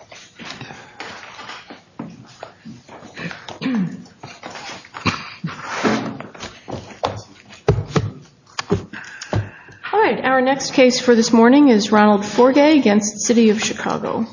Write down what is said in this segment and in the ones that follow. All right, our next case for this morning is Ronald Forgue against City of Chicago.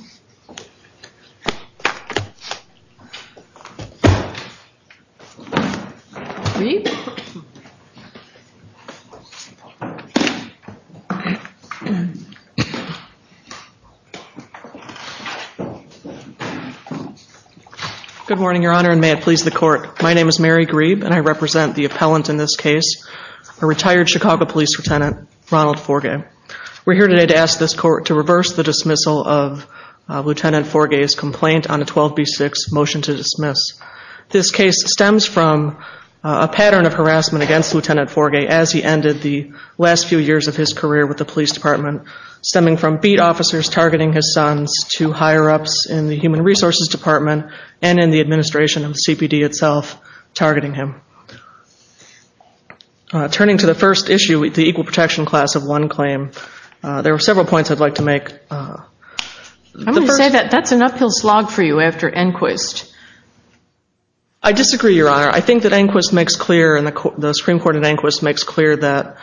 Good morning, Your Honor, and may it please the court. My name is Mary Grebe and I represent the appellant in this case, a retired Chicago Police Lieutenant, Ronald Forgue. We're here today to ask this court to reverse the dismissal of Lieutenant Forgue's complaint on a 12b6 motion to dismiss. This case stems from a pattern of harassment against Lieutenant Forgue as he ended the last few years of his career with the police department, stemming from beat officers targeting his sons to higher-ups in the Human Resources Department and in the administration of CPD itself targeting him. Turning to the first issue, the Equal Protection Class of One claim, there were several points I'd like to make. I'm going to say that that's an uphill slog for you after Enquist. I disagree, Your Honor. I think that Enquist makes clear, and the Supreme Court in Enquist makes clear, that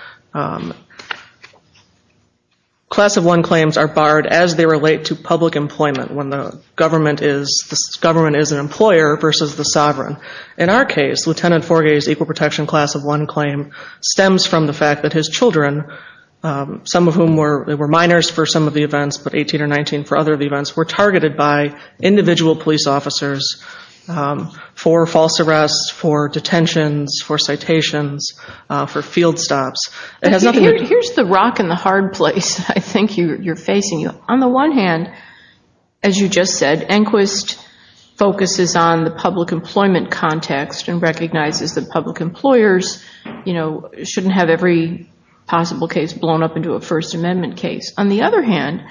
Class of One claims are barred as they relate to public employment when the government is an employer versus the sovereign. In our case, Lieutenant Forgue's Equal Protection Class of One claim stems from the fact that his children, some of whom were minors for some of the events, but 18 or 19 for other events, were targeted by individual police officers for false arrests, for detentions, for citations, for field stops. Here's the rock in the hard place I think you're facing. On the one hand, as you just said, Enquist focuses on the public employment context and recognizes that public employers, you know, shouldn't have every possible case blown up into a First Amendment case. On the other hand,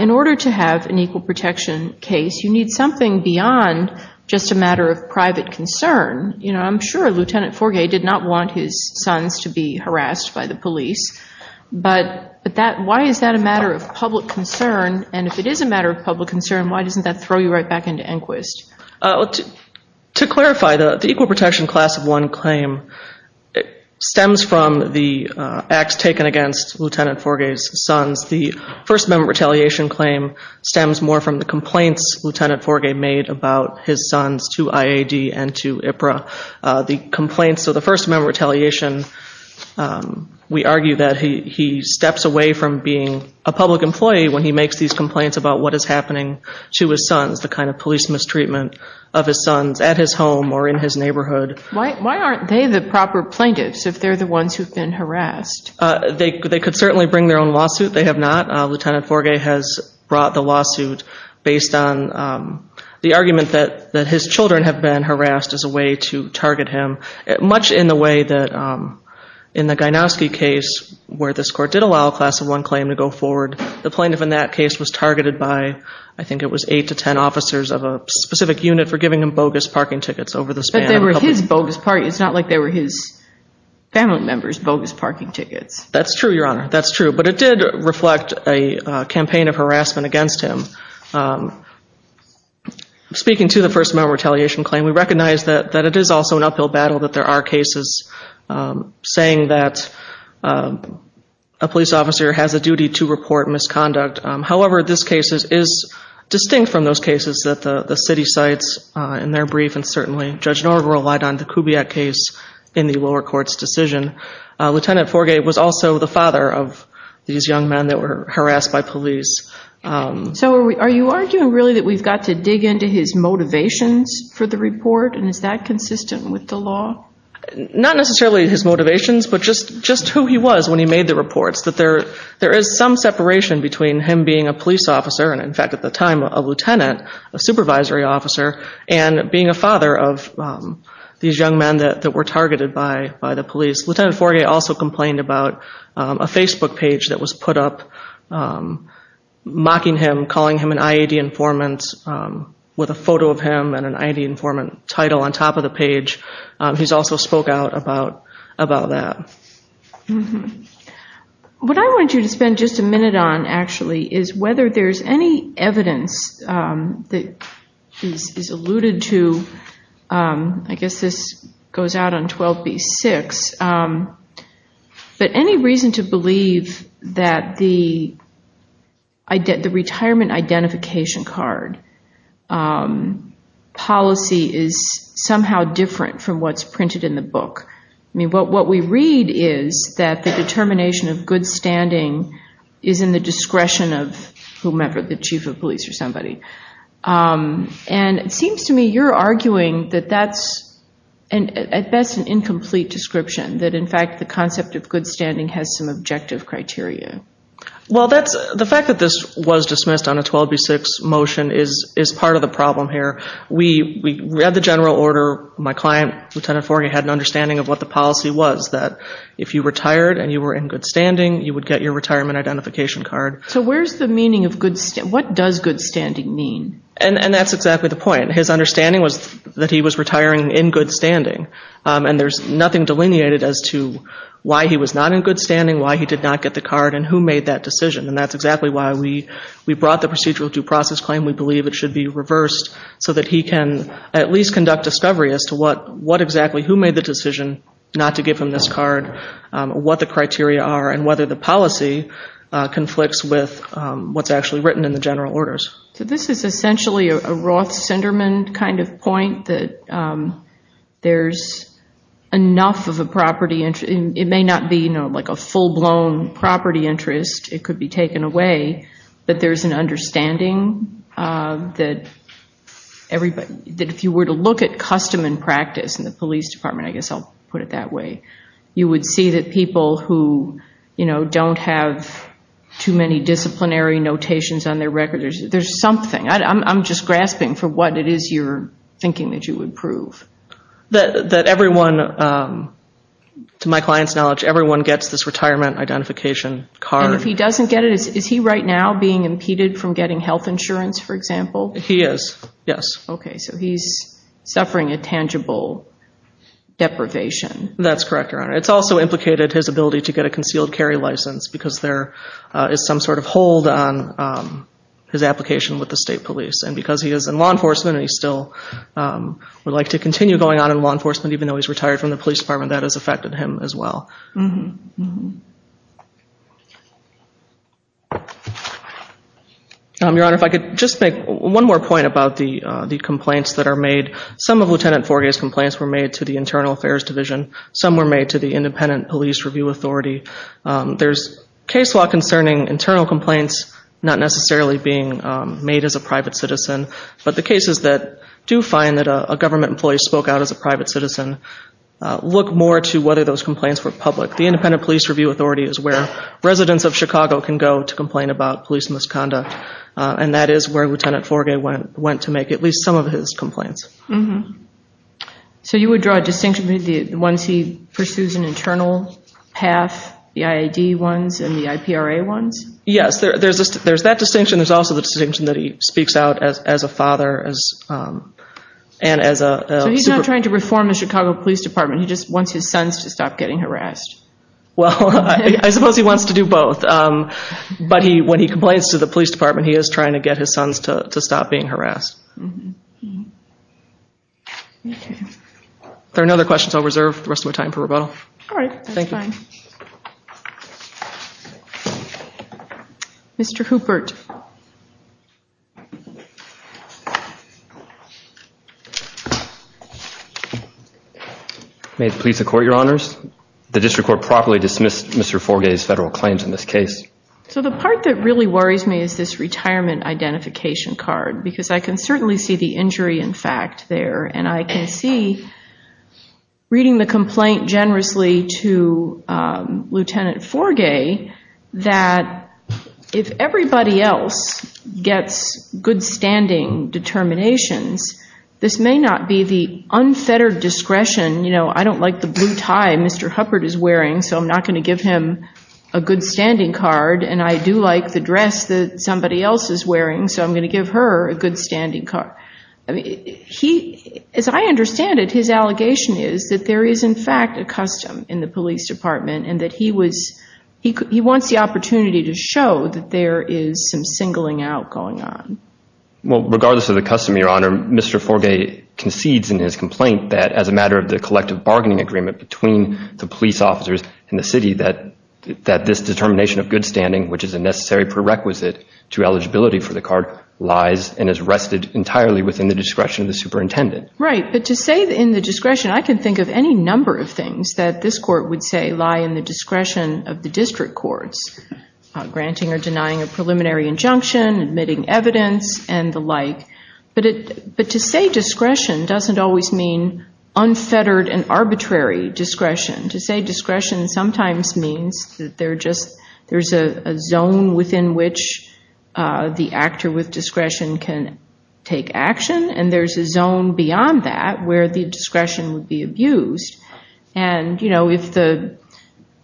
in order to have an equal protection case, you need something beyond just a matter of private concern. You know, I'm sure Lieutenant Forgue did not want his sons to be harassed by the police, but why is that a matter of public concern? And if it is a matter of public concern, why doesn't that throw you right back into Enquist? To clarify, the Equal Protection Class of One claim stems from the acts taken against Lieutenant Forgue's sons. The First Amendment Retaliation claim stems more from the complaints Lieutenant Forgue made about his sons to IAD and to IPRA. The complaints of the First Amendment Retaliation, we argue that he steps away from being a public employee when he makes these complaints about what is happening to his sons, the kind of police mistreatment of his sons at his home or in his neighborhood. Why aren't they the proper plaintiffs if they're the ones who've been harassed? They could certainly bring their own lawsuit. They have not. Lieutenant Forgue has brought the lawsuit based on the argument that his children have been harassed as a way to target him, much in the way that in the Gynowski case, where this court did allow a Class of One claim to go forward, the plaintiff in that case was targeted by, I think it was eight to ten officers of a specific unit for giving him bogus parking tickets over the span of a couple days. But they were his bogus parking tickets, not like they were his family members bogus parking tickets. That's true, Your Honor. That's true. But it did reflect a campaign of harassment against him. Speaking to the First Amendment Retaliation claim, we recognize that it is also an uphill battle, that there are cases saying that a police officer has a duty to report misconduct. However, this case is distinct from those cases that the city cites in their brief, and certainly Judge Noerger relied on the Kubiak case in the lower court's decision. Lieutenant Forgue was also the father of these young men that were harassed by police. So are you arguing really that we've got to dig into his motivations for the report, and is that consistent with the law? Not necessarily his motivations, but just who he was when he made the reports. That there is some separation between him being a police officer, and in fact at the time a lieutenant, a supervisory officer, and being a father of these young men that were targeted by the police. Lieutenant Forgue also complained about a Facebook page that was put up mocking him, calling him an IAD informant, with a photo of him and an IAD informant title on top of the page. He's also spoke out about that. What I want you to spend just a minute on actually is whether there's any evidence that is alluded to, I guess this goes out on 12b-6, but any reason to believe that the retirement identification card policy is somehow different from what's printed in the book. I mean, what we read is that the determination of good standing is in the discretion of whomever, the chief of police or somebody. And it seems to me you're arguing that that's at best an incomplete description, that in fact the concept of good standing has some objective criteria. Well, the fact that this was dismissed on a 12b-6 motion is part of the problem here. We read the general order. My client, Lieutenant Forgue, had an understanding of what the policy was, that if you retired and you were in good standing, you would get your retirement identification card. So what does good standing mean? And that's exactly the point. His understanding was that he was retiring in good standing. And there's nothing delineated as to why he was not in good standing, why he did not get the card, and who made that decision. And that's exactly why we brought the procedural due process claim. We believe it should be reversed so that he can at least conduct discovery as to what exactly, who made the decision not to give him this card, what the criteria are, and whether the policy conflicts with what's actually written in the general orders. So this is essentially a Roth-Sinderman kind of point, that there's enough of a property interest. It may not be, you know, like a full-blown property interest. It could be taken away, but there's an understanding that everybody, that if you were to look at custom and practice in the police department, I guess I'll put it that way, you would see that people who, you know, don't have too many disciplinary notations on their record, there's something, I'm just grasping for what it is you're thinking that you would prove. That everyone, to my client's knowledge, everyone gets this retirement identification card. And if he doesn't get it, is he right now being impeded from getting health insurance, for example? He is, yes. Okay, so he's suffering a tangible deprivation. That's correct, Your Honor. It's also implicated his ability to get a concealed carry license because there is some sort of hold on his application with the state police. And because he is in law enforcement and he still would like to continue going on in law enforcement, even though he's retired from the police department, that has affected him as well. Your Honor, if I could just make one more point about the complaints that are made. Some of Lieutenant Forgay's complaints were made to the Internal Affairs Division. Some were made to the Independent Police Review Authority. There's case law concerning internal complaints not necessarily being made as a private citizen, but the cases that do find that a government employee spoke out as a private citizen look more to whether those complaints were public. The Independent Police Review Authority is where residents of Chicago can go to complain about police misconduct, and that is where Lieutenant Forgay went to make at least some of his complaints. So you would draw a distinction between the ones he pursues an internal path, the IAD ones, and the IPRA ones? Yes, there's that distinction. There's also the distinction that he speaks out as a father and as a supervisor. So he's not trying to reform the Chicago Police Department. He just wants his sons to stop getting harassed. Well, I suppose he wants to do both. But when he complains to the police department, he is trying to get his sons to stop being harassed. If there are no other questions, I'll reserve the rest of my time for rebuttal. All right, that's fine. Thank you. Mr. Hoopert. May it please the Court, Your Honors. The district court properly dismissed Mr. Forgay's federal claims in this case. So the part that really worries me is this retirement identification card because I can certainly see the injury in fact there, and I can see, reading the complaint generously to Lieutenant Forgay, that if everybody else gets good standing determinations, this may not be the unfettered discretion. You know, I don't like the blue tie Mr. Hoopert is wearing, so I'm not going to give him a good standing card, and I do like the dress that somebody else is wearing, so I'm going to give her a good standing card. As I understand it, his allegation is that there is in fact a custom in the police department and that he wants the opportunity to show that there is some singling out going on. Well, regardless of the custom, Your Honor, Mr. Forgay concedes in his complaint that as a matter of the collective bargaining agreement between the police officers and the city that this determination of good standing, which is a necessary prerequisite to eligibility for the card, lies and is rested entirely within the discretion of the superintendent. Right, but to say in the discretion, I can think of any number of things that this court would say lie in the discretion of the district courts, granting or denying a preliminary injunction, admitting evidence, and the like. But to say discretion doesn't always mean unfettered and arbitrary discretion. To say discretion sometimes means that there's a zone within which the actor with discretion can take action and there's a zone beyond that where the discretion would be abused.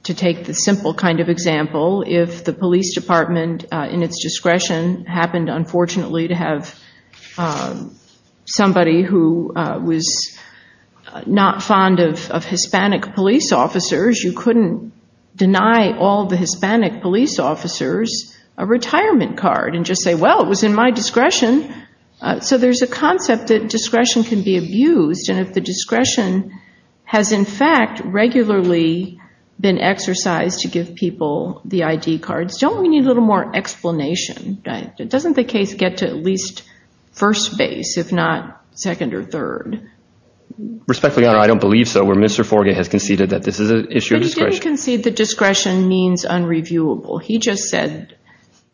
To take the simple kind of example, if the police department, in its discretion, happened, unfortunately, to have somebody who was not fond of Hispanic police officers, you couldn't deny all the Hispanic police officers a retirement card and just say, well, it was in my discretion. So there's a concept that discretion can be abused. And if the discretion has, in fact, regularly been exercised to give people the ID cards, don't we need a little more explanation? Doesn't the case get to at least first base, if not second or third? Respectfully, Your Honor, I don't believe so, where Mr. Forgay has conceded that this is an issue of discretion. But he didn't concede that discretion means unreviewable. He just said,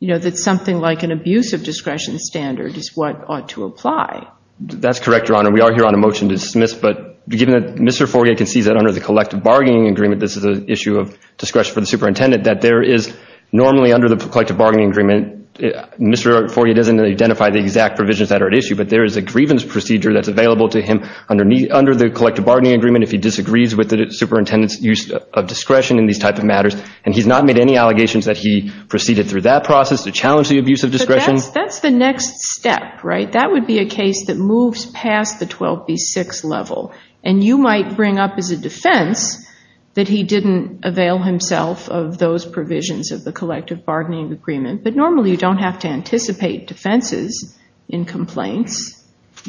you know, that something like an abuse of discretion standard is what ought to apply. That's correct, Your Honor. We are here on a motion to dismiss. But given that Mr. Forgay concedes that under the collective bargaining agreement, this is an issue of discretion for the superintendent, that there is normally under the collective bargaining agreement, Mr. Forgay doesn't identify the exact provisions that are at issue, but there is a grievance procedure that's available to him under the collective bargaining agreement if he disagrees with the superintendent's use of discretion in these type of matters. And he's not made any allegations that he proceeded through that process to challenge the abuse of discretion. But that's the next step, right? That would be a case that moves past the 12B6 level. And you might bring up as a defense that he didn't avail himself of those provisions of the collective bargaining agreement. But normally you don't have to anticipate defenses in complaints.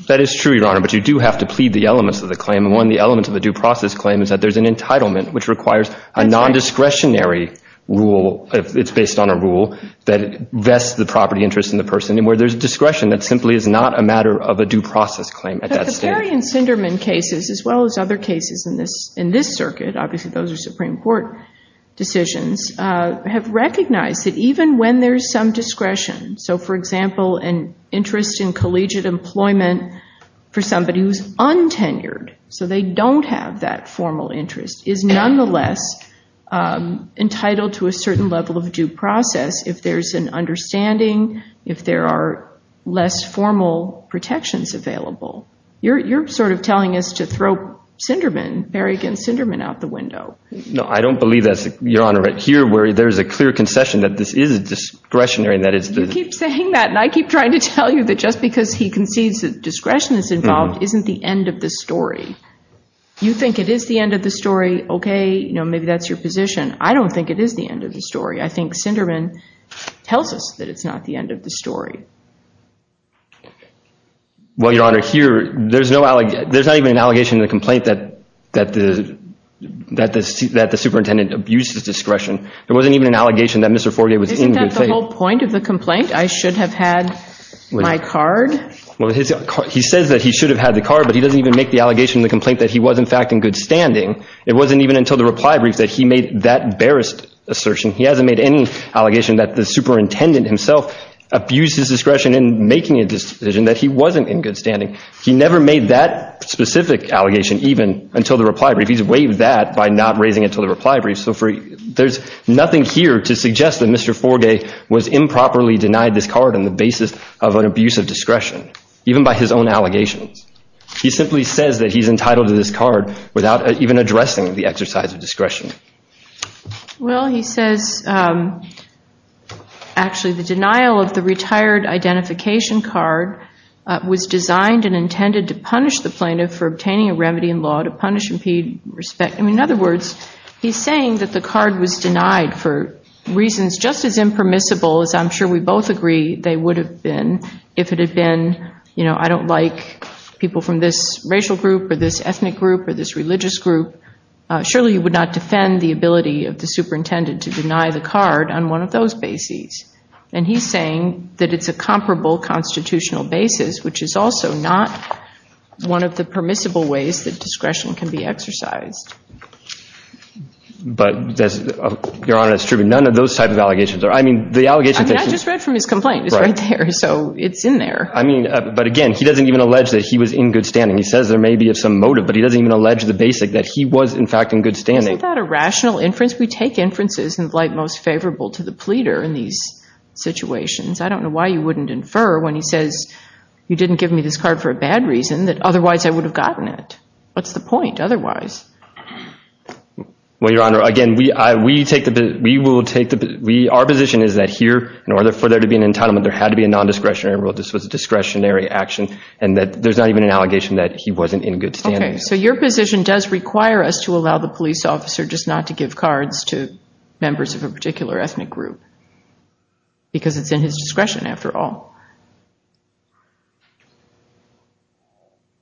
That is true, Your Honor. But you do have to plead the elements of the claim. And one of the elements of the due process claim is that there's an entitlement which requires a nondiscretionary rule. It's based on a rule that vests the property interest in the person. And where there's discretion, that simply is not a matter of a due process claim at that stage. Marion Sinderman cases, as well as other cases in this circuit, obviously those are Supreme Court decisions, have recognized that even when there's some discretion, so for example an interest in collegiate employment for somebody who's untenured, so they don't have that formal interest, is nonetheless entitled to a certain level of due process if there's an understanding, if there are less formal protections available. You're sort of telling us to throw Sinderman, Marion Sinderman, out the window. No, I don't believe that, Your Honor. Here where there's a clear concession that this is discretionary and that it's the… You keep saying that and I keep trying to tell you that just because he concedes that discretion is involved isn't the end of the story. You think it is the end of the story. Okay, maybe that's your position. I don't think it is the end of the story. Well, Your Honor, here there's not even an allegation in the complaint that the superintendent abused his discretion. There wasn't even an allegation that Mr. Forgay was in good faith. Isn't that the whole point of the complaint, I should have had my card? Well, he says that he should have had the card, but he doesn't even make the allegation in the complaint that he was in fact in good standing. It wasn't even until the reply brief that he made that barest assertion. He hasn't made any allegation that the superintendent himself abused his discretion in making a decision that he wasn't in good standing. He never made that specific allegation even until the reply brief. He's waived that by not raising it until the reply brief. So there's nothing here to suggest that Mr. Forgay was improperly denied this card on the basis of an abuse of discretion, even by his own allegations. He simply says that he's entitled to this card without even addressing the exercise of discretion. Well, he says actually the denial of the retired identification card was designed and intended to punish the plaintiff for obtaining a remedy in law, to punish, impede, respect. In other words, he's saying that the card was denied for reasons just as impermissible as I'm sure we both agree they would have been if it had been, I don't like people from this racial group or this ethnic group or this religious group. Surely you would not defend the ability of the superintendent to deny the card on one of those bases. And he's saying that it's a comparable constitutional basis, which is also not one of the permissible ways that discretion can be exercised. But, Your Honor, it's true, but none of those types of allegations are. I mean, the allegation that he – I mean, I just read from his complaint. It's right there. So it's in there. I mean, but again, he doesn't even allege that he was in good standing. He says there may be some motive, but he doesn't even allege the basic that he was, in fact, in good standing. Isn't that a rational inference? We take inferences in the light most favorable to the pleader in these situations. I don't know why you wouldn't infer when he says you didn't give me this card for a bad reason that otherwise I would have gotten it. What's the point otherwise? Well, Your Honor, again, we will take the – our position is that here, in order for there to be an entitlement, there had to be a nondiscretionary rule. This was a discretionary action, and that there's not even an allegation that he wasn't in good standing. Okay. So your position does require us to allow the police officer just not to give cards to members of a particular ethnic group, because it's in his discretion, after all.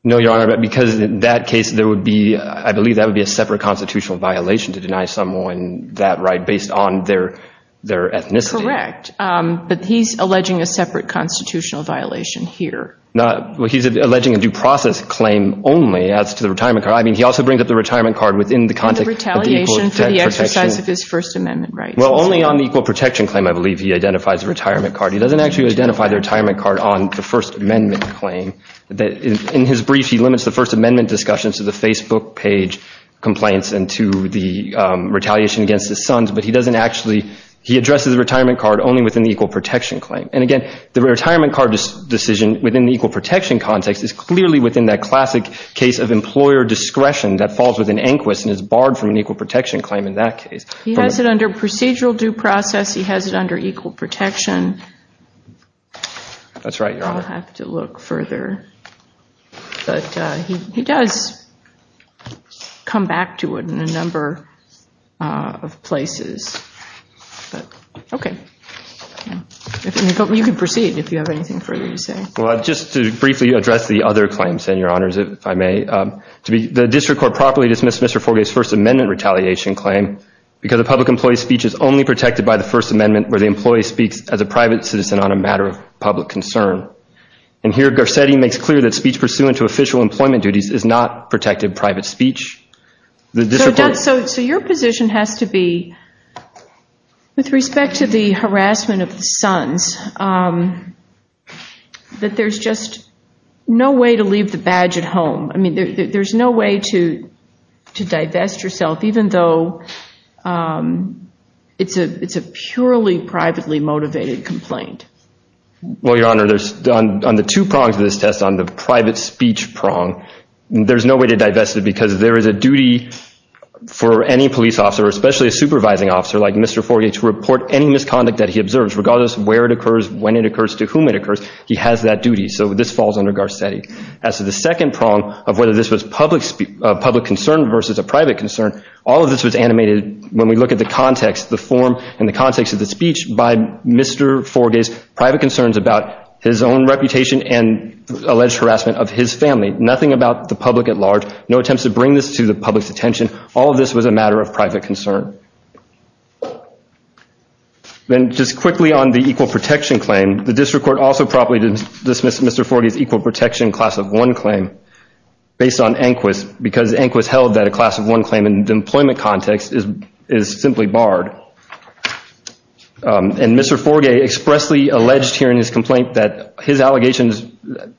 No, Your Honor, because in that case, there would be – I believe that would be a separate constitutional violation to deny someone that right based on their ethnicity. Correct. But he's alleging a separate constitutional violation here. Well, he's alleging a due process claim only as to the retirement card. I mean, he also brings up the retirement card within the context of the equal protection. And the retaliation for the exercise of his First Amendment rights. Well, only on the equal protection claim, I believe, he identifies the retirement card. He doesn't actually identify the retirement card on the First Amendment claim. In his brief, he limits the First Amendment discussion to the Facebook page complaints and to the retaliation against his sons, but he doesn't actually – he addresses the retirement card only within the equal protection claim. And, again, the retirement card decision within the equal protection context is clearly within that classic case of employer discretion that falls within ANQUIST and is barred from an equal protection claim in that case. He has it under procedural due process. He has it under equal protection. That's right, Your Honor. I'll have to look further. But he does come back to it in a number of places. Okay. You can proceed if you have anything further to say. Well, just to briefly address the other claims, then, Your Honors, if I may. The district court properly dismissed Mr. Forgay's First Amendment retaliation claim because a public employee's speech is only protected by the First Amendment where the employee speaks as a private citizen on a matter of public concern. And here Garcetti makes clear that speech pursuant to official employment duties is not protected private speech. So your position has to be, with respect to the harassment of the sons, that there's just no way to leave the badge at home. I mean, there's no way to divest yourself even though it's a purely privately motivated complaint. Well, Your Honor, on the two prongs of this test, on the private speech prong, there's no way to divest it because there is a duty for any police officer, especially a supervising officer like Mr. Forgay, to report any misconduct that he observes, regardless of where it occurs, when it occurs, to whom it occurs. He has that duty. So this falls under Garcetti. As to the second prong of whether this was public concern versus a private concern, all of this was animated when we look at the context, the form, and the context of the speech by Mr. Forgay's private concerns about his own reputation and alleged harassment of his family. Nothing about the public at large. No attempts to bring this to the public's attention. All of this was a matter of private concern. Then just quickly on the equal protection claim, the district court also properly dismissed Mr. Forgay's equal protection class of one claim based on ANQUIS because ANQUIS held that a class of one claim in the employment context is simply barred. And Mr. Forgay expressly alleged here in his complaint that his allegations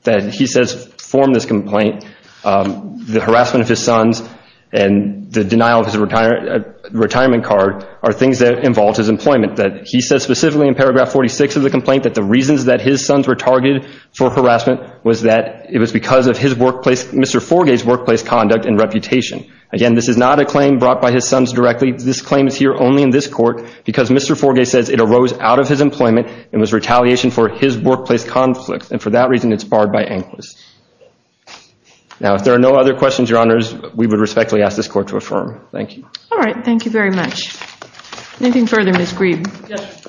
that he says form this complaint, the harassment of his sons and the denial of his retirement card are things that involve his employment. He says specifically in paragraph 46 of the complaint that the reasons that his sons were targeted for harassment was that it was because of Mr. Forgay's workplace conduct and reputation. Again, this is not a claim brought by his sons directly. This claim is here only in this court because Mr. Forgay says it arose out of his employment and was retaliation for his workplace conflict. And for that reason, it's barred by ANQUIS. Now, if there are no other questions, Your Honors, we would respectfully ask this court to affirm. Thank you. All right. Thank you very much. Anything further, Ms. Greene? Yes.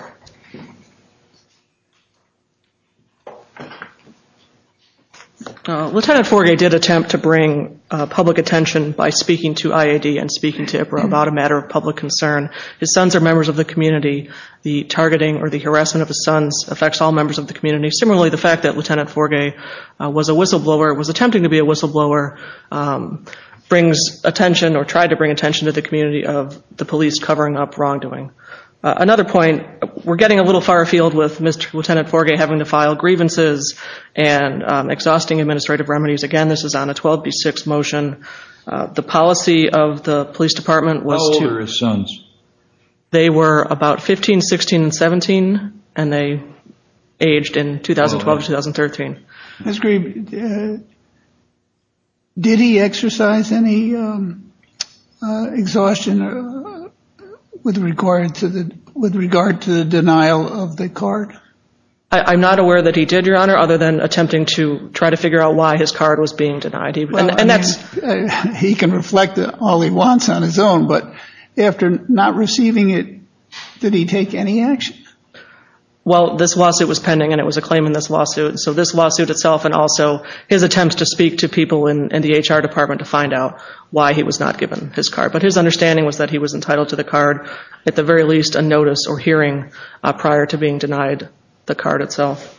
Lieutenant Forgay did attempt to bring public attention by speaking to IAD and speaking to IPRO about a matter of public concern. His sons are members of the community. The targeting or the harassment of his sons affects all members of the community. Similarly, the fact that Lieutenant Forgay was a whistleblower, was attempting to be a whistleblower, brings attention or tried to bring attention to the community of the police covering up wrongdoing. Another point, we're getting a little far afield with Mr. Lieutenant Forgay having to file grievances and exhausting administrative remedies. Again, this is on a 12B6 motion. The policy of the police department was to- How old were his sons? They were about 15, 16, and 17, and they aged in 2012, 2013. Ms. Greene, did he exercise any exhaustion with regard to the denial of the card? I'm not aware that he did, Your Honor, other than attempting to try to figure out why his card was being denied. He can reflect all he wants on his own, but after not receiving it, did he take any action? Well, this lawsuit was pending, and it was a claim in this lawsuit. So this lawsuit itself and also his attempts to speak to people in the HR department to find out why he was not given his card. But his understanding was that he was entitled to the card, at the very least a notice or hearing prior to being denied the card itself.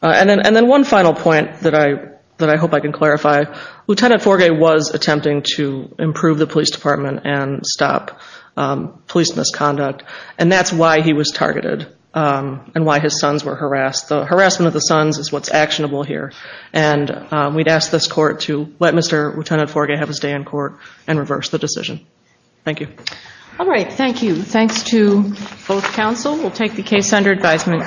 And then one final point that I hope I can clarify. Lieutenant Forgay was attempting to improve the police department and stop police misconduct, and that's why he was targeted and why his sons were harassed. The harassment of the sons is what's actionable here. And we'd ask this court to let Mr. Lieutenant Forgay have his day in court and reverse the decision. Thank you. All right, thank you. Thanks to both counsel. We'll take the case under advisement.